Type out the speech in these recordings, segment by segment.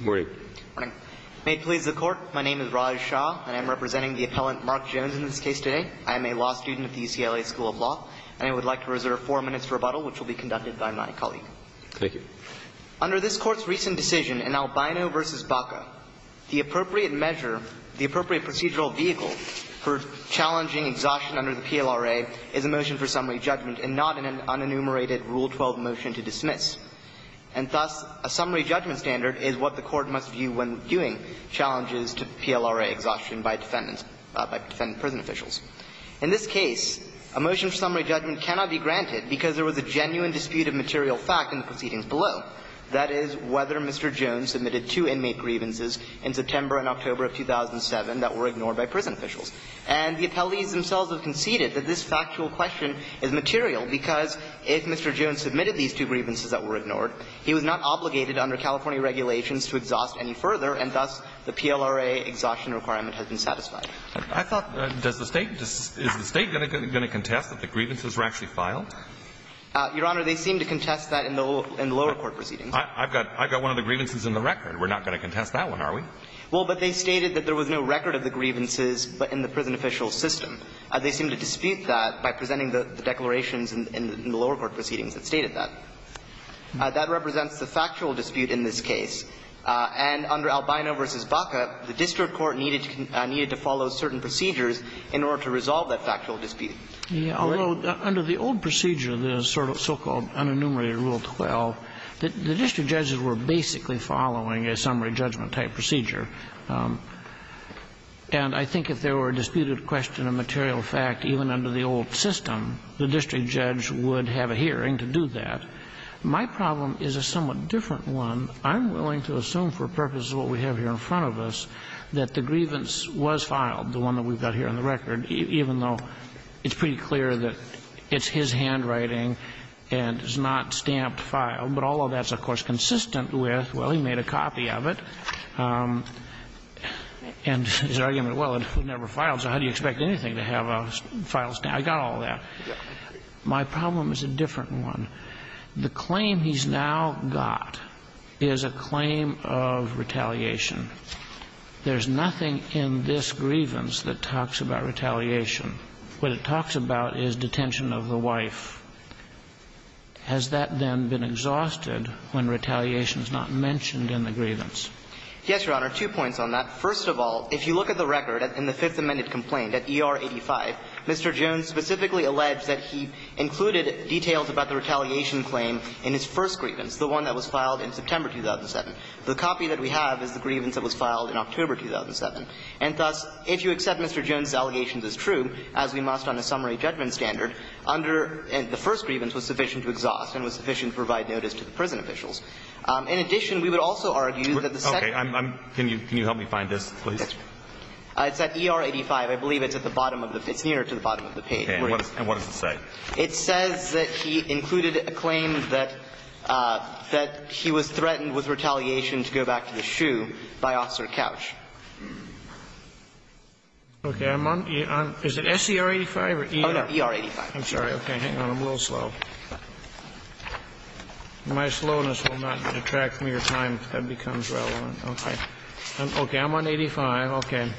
May it please the Court, my name is Raj Shah, and I am representing the appellant Mark Jones in this case today. I am a law student at the UCLA School of Law, and I would like to reserve four minutes for rebuttal, which will be conducted by my colleague. Under this Court's recent decision in Albino v. Baca, the appropriate measure, the appropriate procedural vehicle for challenging exhaustion under the PLRA is a motion for summary judgment and not an unenumerated Rule 12 motion to dismiss. And thus, a summary judgment standard is what the Court must view when viewing challenges to PLRA exhaustion by defendants, by defendant prison officials. In this case, a motion for summary judgment cannot be granted because there was a genuine dispute of material fact in the proceedings below. That is, whether Mr. Jones submitted two inmate grievances in September and October of 2007 that were ignored by prison officials. And the appellees themselves have conceded that this factual question is material because if Mr. Jones submitted these two grievances that were ignored, he was not obligated under California regulations to exhaust any further, and thus the PLRA exhaustion requirement has been satisfied. I thought, does the State, is the State going to contest that the grievances were actually filed? Your Honor, they seem to contest that in the lower court proceedings. I've got one of the grievances in the record. We're not going to contest that one, are we? Well, but they stated that there was no record of the grievances but in the prison official's system. They seem to dispute that by presenting the declarations in the lower court proceedings that stated that. That represents the factual dispute in this case. And under Albino v. Baca, the district court needed to follow certain procedures in order to resolve that factual dispute. Although, under the old procedure, the so-called unenumerated Rule 12, the district judges were basically following a summary judgment-type procedure. And I think if there were a disputed question of material fact even under the old system, the district judge would have a hearing to do that. My problem is a somewhat different one. I'm willing to assume for purposes of what we have here in front of us that the grievance was filed, the one that we've got here on the record, even though it's pretty clear that it's his handwriting and is not stamped file. But all of that is, of course, consistent with, well, he made a copy of it, and his argument, well, it was never filed, so how do you expect anything to have a file stamp? I got all that. My problem is a different one. The claim he's now got is a claim of retaliation. There's nothing in this grievance that talks about retaliation. What it talks about is detention of the wife. Has that then been exhausted when retaliation is not mentioned in the grievance? Yes, Your Honor. Two points on that. First of all, if you look at the record in the Fifth Amendment complaint at ER 85, Mr. Jones specifically alleged that he included details about the retaliation claim in his first grievance, the one that was filed in September 2007. The copy that we have is the grievance that was filed in October 2007. And thus, if you accept Mr. Jones' allegations as true, as we must on a summary judgment standard, under the first grievance was sufficient to exhaust and was sufficient to provide notice to the prison officials. In addition, we would also argue that the second one. Okay. Can you help me find this, please? Yes, Your Honor. It's at ER 85. I believe it's at the bottom of the – it's nearer to the bottom of the page. Okay. And what does it say? It says that he included a claim that he was threatened with retaliation to go back to the shoe by Officer Couch. Okay. I'm on – is it SCR 85 or ER? Oh, no. ER 85. I'm sorry. Okay. Hang on. I'm a little slow. My slowness will not detract from your time if that becomes relevant. Okay. Okay. I'm on 85. Okay.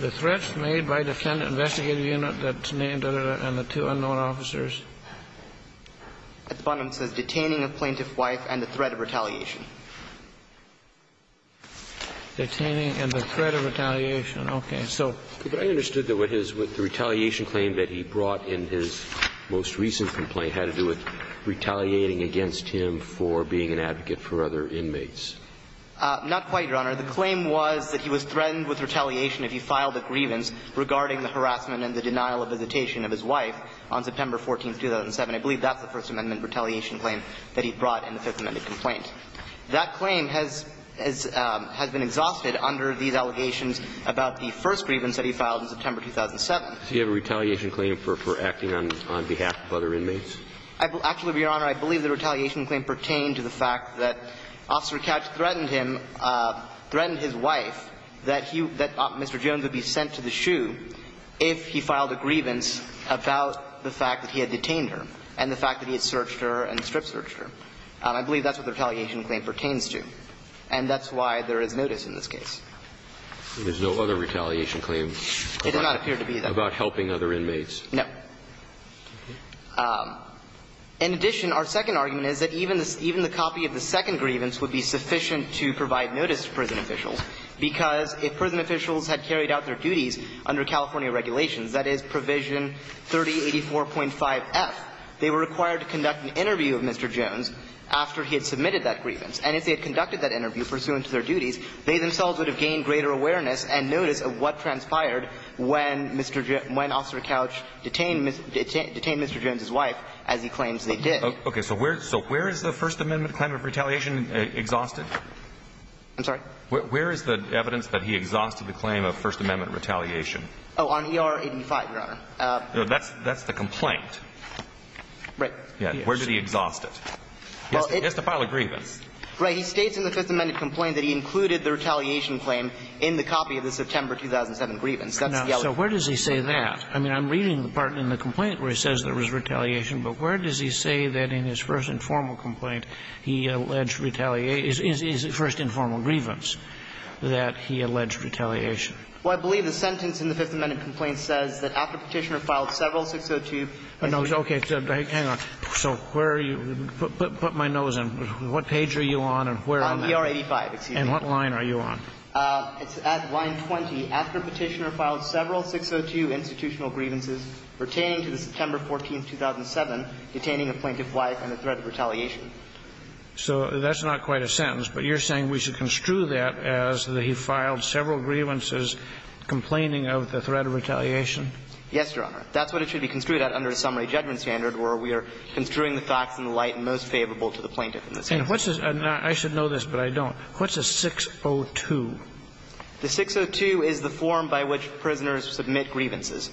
The threats made by defendant investigative unit that's named and the two unknown officers. At the bottom it says, Detaining of plaintiff's wife and the threat of retaliation. Detaining and the threat of retaliation. Okay. So – But I understood that what his – the retaliation claim that he brought in his most Not quite, Your Honor. The claim was that he was threatened with retaliation if he filed a grievance regarding the harassment and the denial of visitation of his wife on September 14, 2007. I believe that's the First Amendment retaliation claim that he brought in the Fifth Amendment complaint. That claim has been exhausted under these allegations about the first grievance that he filed in September 2007. Does he have a retaliation claim for acting on behalf of other inmates? Actually, Your Honor, I believe the retaliation claim pertained to the fact that Officer Couch threatened him – threatened his wife that he – that Mr. Jones would be sent to the shoe if he filed a grievance about the fact that he had detained her and the fact that he had searched her and strip-searched her. I believe that's what the retaliation claim pertains to. And that's why there is notice in this case. There's no other retaliation claim about – It did not appear to be, though. About helping other inmates. No. Okay. In addition, our second argument is that even the – even the copy of the second grievance would be sufficient to provide notice to prison officials, because if prison officials had carried out their duties under California regulations, that is, Provision 3084.5f, they were required to conduct an interview of Mr. Jones after he had submitted that grievance. And if they had conducted that interview pursuant to their duties, they themselves would have gained greater awareness and notice of what transpired when Mr. – when Officer Couch detained – detained Mr. Jones's wife as he claims they did. Okay. So where – so where is the First Amendment claim of retaliation exhausted? I'm sorry? Where is the evidence that he exhausted the claim of First Amendment retaliation? Oh, on ER-85, Your Honor. No, that's – that's the complaint. Right. Yes. Where did he exhaust it? It's the file of grievance. Right. He states in the Fifth Amendment complaint that he included the retaliation claim in the copy of the September 2007 grievance. That's the other one. So where does he say that? I mean, I'm reading the part in the complaint where he says there was retaliation, but where does he say that in his first informal complaint he alleged retaliation – his first informal grievance that he alleged retaliation? Well, I believe the sentence in the Fifth Amendment complaint says that after Petitioner filed several 602 – Okay. Hang on. So where are you – put my nose in. What page are you on and where am I? On ER-85, excuse me. And what line are you on? After Petitioner filed several 602 institutional grievances pertaining to the September 14, 2007, detaining a plaintiff's wife and the threat of retaliation. So that's not quite a sentence. But you're saying we should construe that as that he filed several grievances complaining of the threat of retaliation? Yes, Your Honor. That's what it should be construed at under a summary judgment standard where we are construing the facts in the light most favorable to the plaintiff. And what's the – I should know this, but I don't. What's a 602? The 602 is the form by which prisoners submit grievances.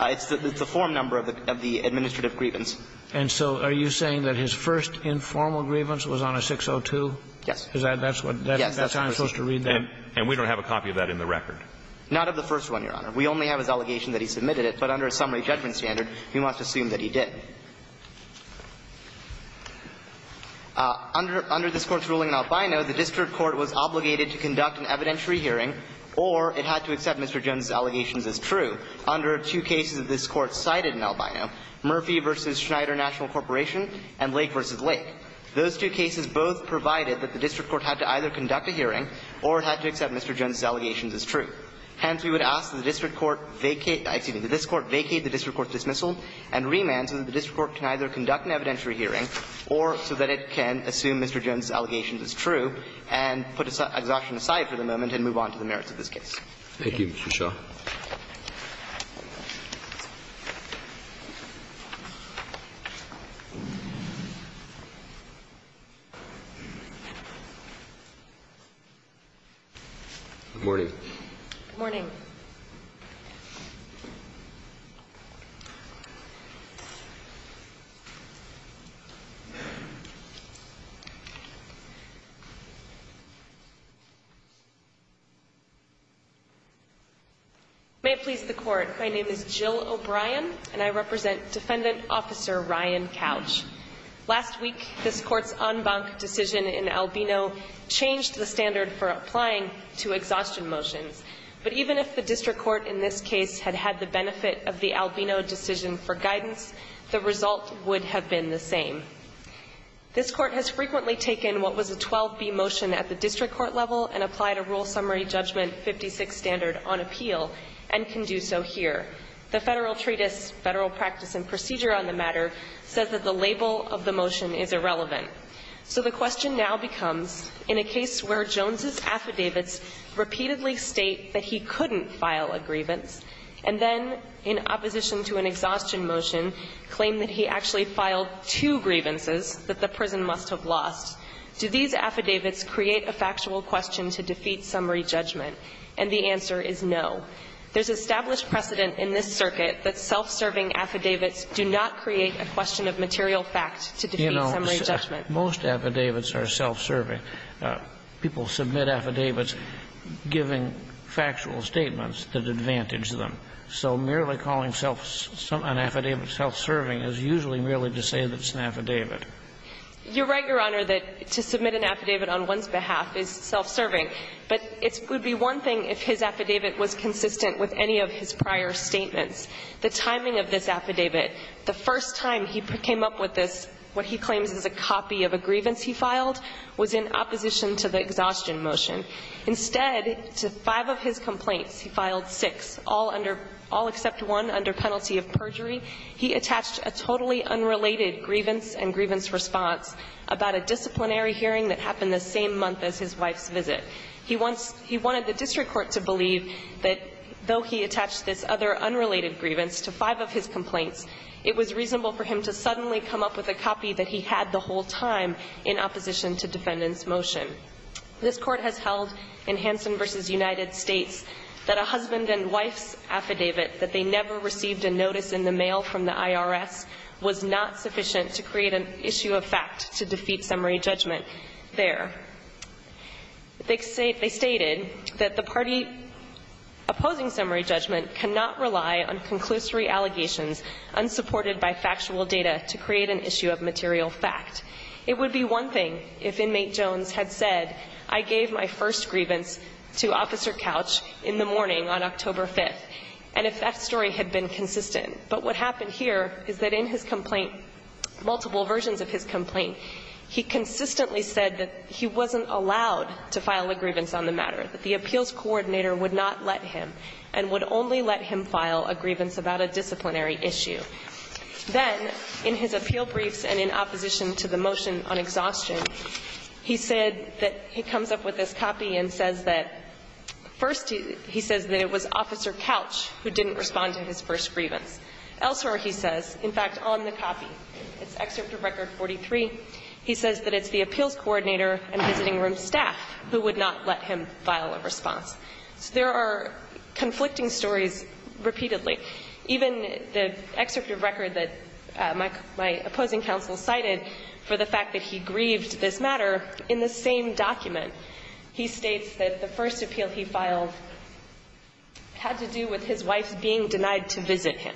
It's the form number of the administrative grievance. And so are you saying that his first informal grievance was on a 602? Yes. Is that – that's what – that's how I'm supposed to read that? Yes. And we don't have a copy of that in the record? Not of the first one, Your Honor. We only have his allegation that he submitted it. But under a summary judgment standard, we must assume that he did. Under this Court's ruling in Albino, the district court was obligated to conduct an evidentiary hearing or it had to accept Mr. Jones's allegations as true. Under two cases that this Court cited in Albino, Murphy v. Schneider National Corporation and Lake v. Lake, those two cases both provided that the district court had to either conduct a hearing or it had to accept Mr. Jones's allegations as true. Hence, we would ask that the district court vacate – excuse me, that this Court vacate the district court's dismissal and remand so that the district court can either conduct an evidentiary hearing or so that it can assume Mr. Jones's allegations as true and put exhaustion aside for the moment and move on to the merits of this case. Thank you. Thank you, Mr. Shaw. Good morning. May it please the Court. My name is Jill O'Brien, and I represent Defendant Officer Ryan Couch. Last week, this Court's en banc decision in Albino changed the standard for applying to exhaustion motions. But even if the district court in this case had had the benefit of the Albino decision for guidance, the result would have been the same. This Court has frequently taken what was a 12b motion at the district court level and applied a Rule Summary Judgment 56 standard on appeal and can do so here. The Federal Treatise, Federal Practice and Procedure on the Matter, says that the label of the motion is irrelevant. So the question now becomes, in a case where Jones's affidavits repeatedly state that he couldn't file a grievance and then, in opposition to an exhaustion motion, claim that he actually filed two grievances that the prison must have lost, do these affidavits create a factual question to defeat summary judgment? And the answer is no. There's established precedent in this circuit that self-serving affidavits do not create a question of material fact to defeat summary judgment. You know, most affidavits are self-serving. People submit affidavits giving factual statements that advantage them. So merely calling an affidavit self-serving is usually merely to say that it's an affidavit. You're right, Your Honor, that to submit an affidavit on one's behalf is self-serving. But it would be one thing if his affidavit was consistent with any of his prior statements. The timing of this affidavit, the first time he came up with this, what he claims is a copy of a grievance he filed, was in opposition to the exhaustion motion. Instead, to five of his complaints, he filed six, all under – all except one under penalty of perjury. He attached a totally unrelated grievance and grievance response about a disciplinary hearing that happened the same month as his wife's visit. He wants – he wanted the district court to believe that though he attached this other unrelated grievance to five of his complaints, it was reasonable for him to suddenly come up with a copy that he had the whole time in opposition to defendant's motion. This Court has held in Hansen v. United States that a husband and wife's affidavit that they never received a notice in the mail from the IRS was not sufficient to create an issue of fact to defeat summary judgment there. They stated that the party opposing summary judgment cannot rely on conclusory allegations unsupported by factual data to create an issue of material fact. It would be one thing if inmate Jones had said, I gave my first grievance to Officer Couch in the morning on October 5th, and if that story had been consistent. But what happened here is that in his complaint, multiple versions of his complaint, he consistently said that he wasn't allowed to file a grievance on the matter, that the appeals coordinator would not let him, and would only let him file a grievance about a disciplinary issue. Then, in his appeal briefs and in opposition to the motion on exhaustion, he said that he comes up with this copy and says that, first, he says that it was Officer Couch who didn't respond to his first grievance. Elsewhere, he says, in fact, on the copy, it's Excerpt of Record 43, he says that it's the appeals coordinator and visiting room staff who would not let him file a response. So there are conflicting stories repeatedly. Even the excerpt of record that my opposing counsel cited for the fact that he grieved this matter, in the same document, he states that the first appeal he filed had to do with his wife being denied to visit him.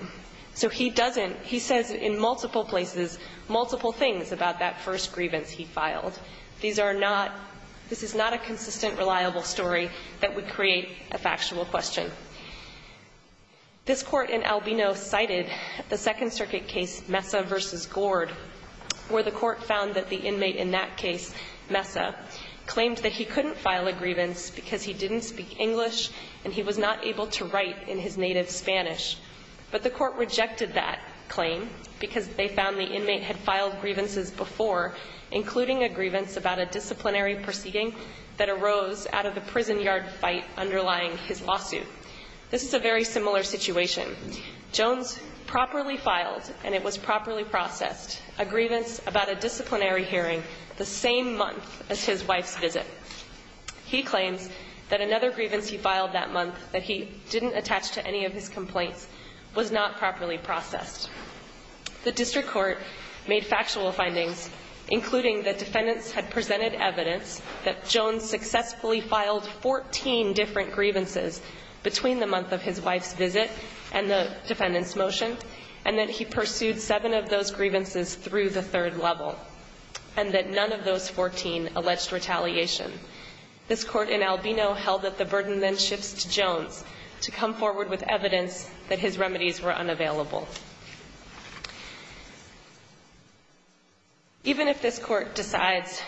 So he doesn't, he says in multiple places, multiple things about that first grievance he filed. These are not, this is not a consistent, reliable story that would create a factual question. This Court in Albino cited the Second Circuit case, Mesa v. Gord, where the Court found that the inmate in that case, Mesa, claimed that he couldn't file a grievance because he didn't speak English and he was not able to write in his native Spanish. But the Court rejected that claim because they found the inmate had filed grievances before, including a grievance about a disciplinary proceeding that arose out of the prison yard fight underlying his lawsuit. This is a very similar situation. Jones properly filed, and it was properly processed, a grievance about a disciplinary hearing the same month as his wife's visit. He claims that another grievance he filed that month that he didn't attach to any of his complaints was not properly processed. The district court made factual findings, including that defendants had presented evidence that Jones successfully filed 14 different grievances between the month of his wife's visit and the defendant's motion, and that he pursued seven of those grievances through the third level, and that none of those 14 alleged retaliation. This Court in Albino held that the burden then shifts to Jones to come forward with evidence that his remedies were unavailable. Even if this Court decides,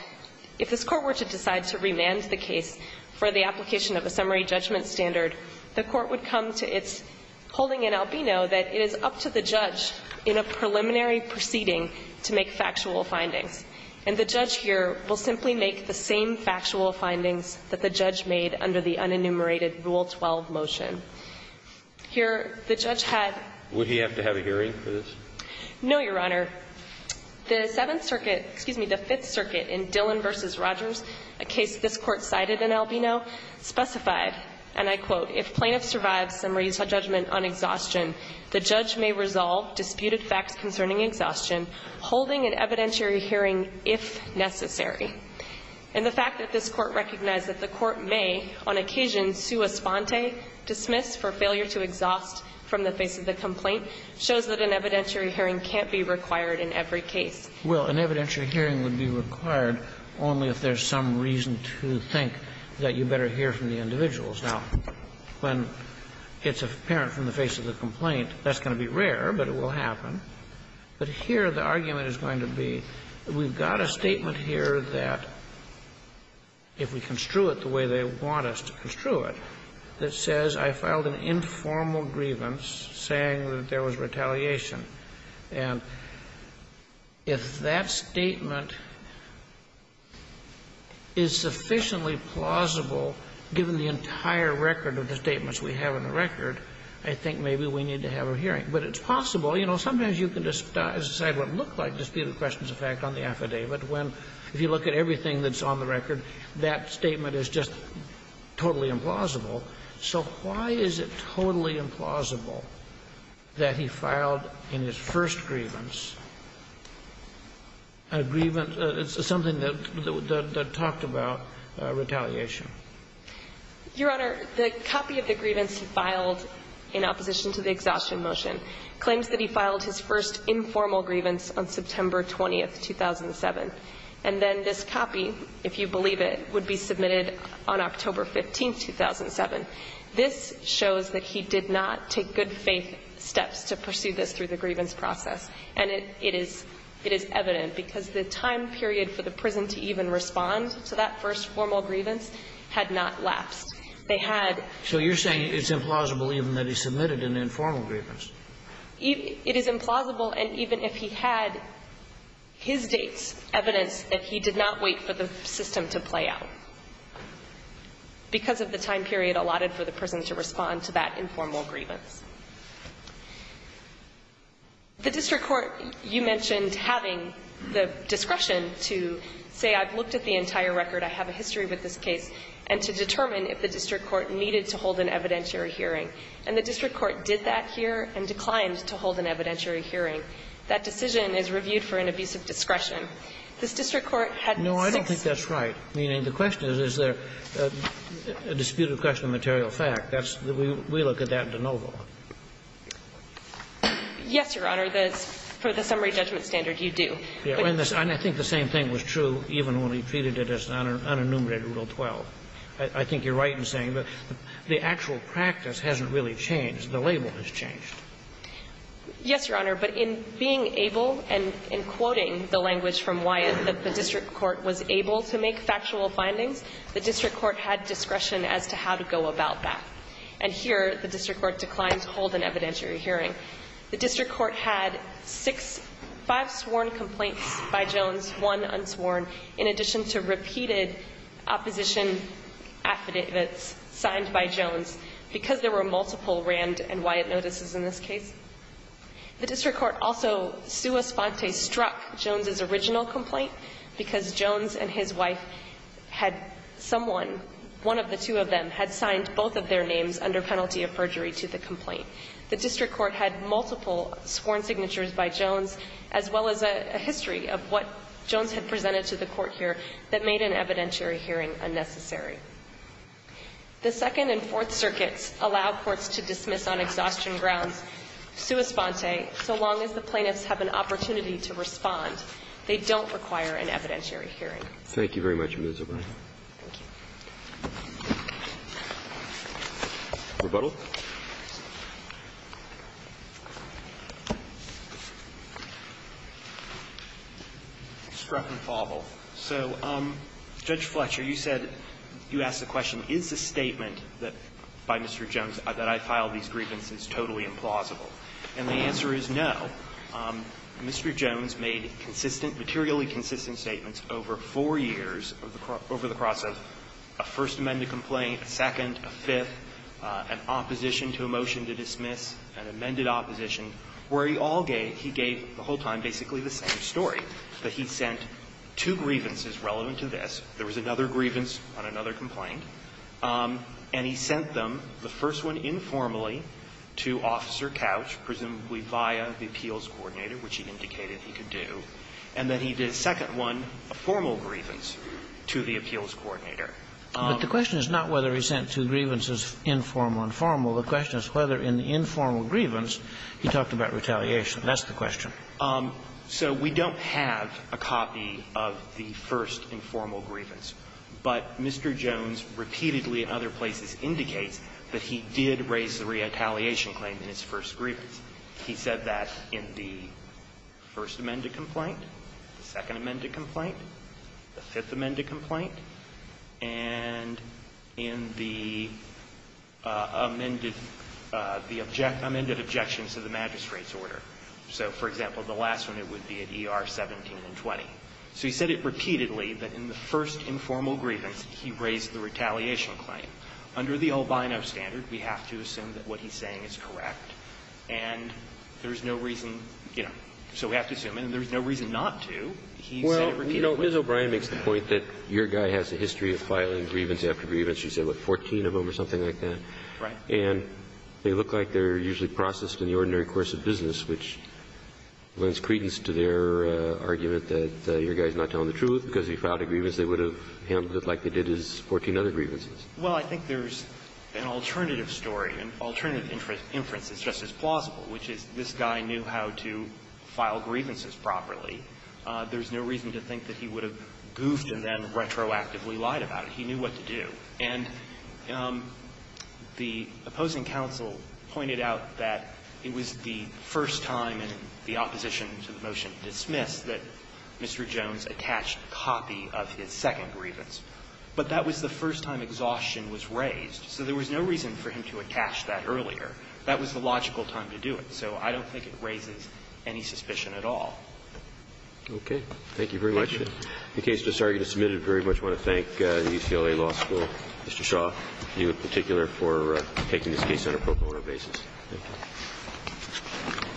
if this Court were to decide to remand the case for the holding in Albino, that it is up to the judge in a preliminary proceeding to make factual findings. And the judge here will simply make the same factual findings that the judge made under the unenumerated Rule 12 motion. Here, the judge had to have a hearing for this. No, Your Honor. The Seventh Circuit, excuse me, the Fifth Circuit in Dillon v. Rogers, a case this judgment on exhaustion, the judge may resolve disputed facts concerning exhaustion holding an evidentiary hearing if necessary. And the fact that this Court recognized that the Court may, on occasion, sua sponte, dismiss for failure to exhaust from the face of the complaint, shows that an evidentiary hearing can't be required in every case. Well, an evidentiary hearing would be required only if there's some reason to think that you better hear from the individuals. Now, when it's apparent from the face of the complaint, that's going to be rare, but it will happen. But here, the argument is going to be, we've got a statement here that, if we construe it the way they want us to construe it, that says, I filed an informal grievance saying that there was retaliation. And if that statement is sufficiently plausible, given the entirety of the argument we have in the record, I think maybe we need to have a hearing. But it's possible. You know, sometimes you can decide what it looked like, disputed questions of fact, on the affidavit, when, if you look at everything that's on the record, that statement is just totally implausible. So why is it totally implausible that he filed in his first grievance a grievance of something that talked about retaliation? Your Honor, the copy of the grievance he filed in opposition to the exhaustion motion claims that he filed his first informal grievance on September 20, 2007. And then this copy, if you believe it, would be submitted on October 15, 2007. This shows that he did not take good faith steps to pursue this through the grievance process. And it is evident, because the time period for the prison to even respond to that first formal grievance had not lapsed. They had ---- So you're saying it's implausible even that he submitted an informal grievance? It is implausible, and even if he had his dates, evidence that he did not wait for the system to play out, because of the time period allotted for the prison to respond to that informal grievance. The district court, you mentioned having the discretion to say, I've looked at the case, and to determine if the district court needed to hold an evidentiary hearing. And the district court did that here and declined to hold an evidentiary hearing. That decision is reviewed for an abuse of discretion. This district court had six ---- No, I don't think that's right. I mean, the question is, is there a disputed question of material fact? That's the ---- we look at that in de novo. Yes, Your Honor. For the summary judgment standard, you do. And I think the same thing was true even when we treated it as unenumerated Rule 12. I think you're right in saying that the actual practice hasn't really changed. The label has changed. Yes, Your Honor. But in being able and in quoting the language from Wyatt that the district court was able to make factual findings, the district court had discretion as to how to go about that. And here, the district court declined to hold an evidentiary hearing. The district court had six, five sworn complaints by Jones, one unsworn, in addition to repeated opposition affidavits signed by Jones because there were multiple Rand and Wyatt notices in this case. The district court also sua sponte struck Jones's original complaint because Jones and his wife had someone, one of the two of them, had signed both of their names under penalty of perjury to the complaint. The district court had multiple sworn signatures by Jones, as well as a history of what Jones had presented to the court here that made an evidentiary hearing unnecessary. The Second and Fourth Circuits allow courts to dismiss on exhaustion grounds sua sponte so long as the plaintiffs have an opportunity to respond. They don't require an evidentiary hearing. Thank you very much, Ms. O'Brien. Thank you. Rebuttal. Struck and fauble. So, Judge Fletcher, you said, you asked the question, is the statement by Mr. Jones that I filed these grievances totally implausible? And the answer is no. Mr. Jones made consistent, materially consistent statements over four years over the course of a first amended complaint, a second, a fifth, an opposition to a motion to dismiss, an amended opposition, where he all gave, he gave the whole time basically the same story, that he sent two grievances relevant to this, there was another grievance on another complaint, and he sent them, the first one informally to Officer Couch, presumably via the appeals coordinator, which he indicated he could do, and then he did a second one, a formal grievance, to the appeals coordinator. But the question is not whether he sent two grievances, informal and formal. The question is whether in the informal grievance, he talked about retaliation. That's the question. So we don't have a copy of the first informal grievance. But Mr. Jones repeatedly, in other places, indicates that he did raise the retaliation claim in his first grievance. He said that in the first amended complaint, the second amended complaint, the fifth amended complaint, and in the amended, the amended objections to the magistrate's order. So, for example, the last one, it would be at ER 17 and 20. So he said it repeatedly, that in the first informal grievance, he raised the retaliation claim. Under the old BINO standard, we have to assume that what he's saying is correct. And there's no reason, you know, so we have to assume. And there's no reason not to. He said it repeatedly. Well, you know, Ms. O'Brien makes the point that your guy has a history of filing grievance after grievance. She said, what, 14 of them or something like that? Right. And they look like they're usually processed in the ordinary course of business, which lends credence to their argument that your guy's not telling the truth because if he filed a grievance, they would have handled it like they did his 14 other grievances. Well, I think there's an alternative story, an alternative inference that's just as plausible, which is this guy knew how to file grievances properly. There's no reason to think that he would have goofed and then retroactively lied about it. He knew what to do. And the opposing counsel pointed out that it was the first time in the opposition to the motion dismissed that Mr. Jones attached a copy of his second grievance. But that was the first time exhaustion was raised. So there was no reason for him to attach that earlier. That was the logical time to do it. So I don't think it raises any suspicion at all. Okay. Thank you very much. In the case that's already submitted, I very much want to thank the UCLA Law School, Mr. Shaw, you in particular, for taking this case on a pro bono basis. Thank you.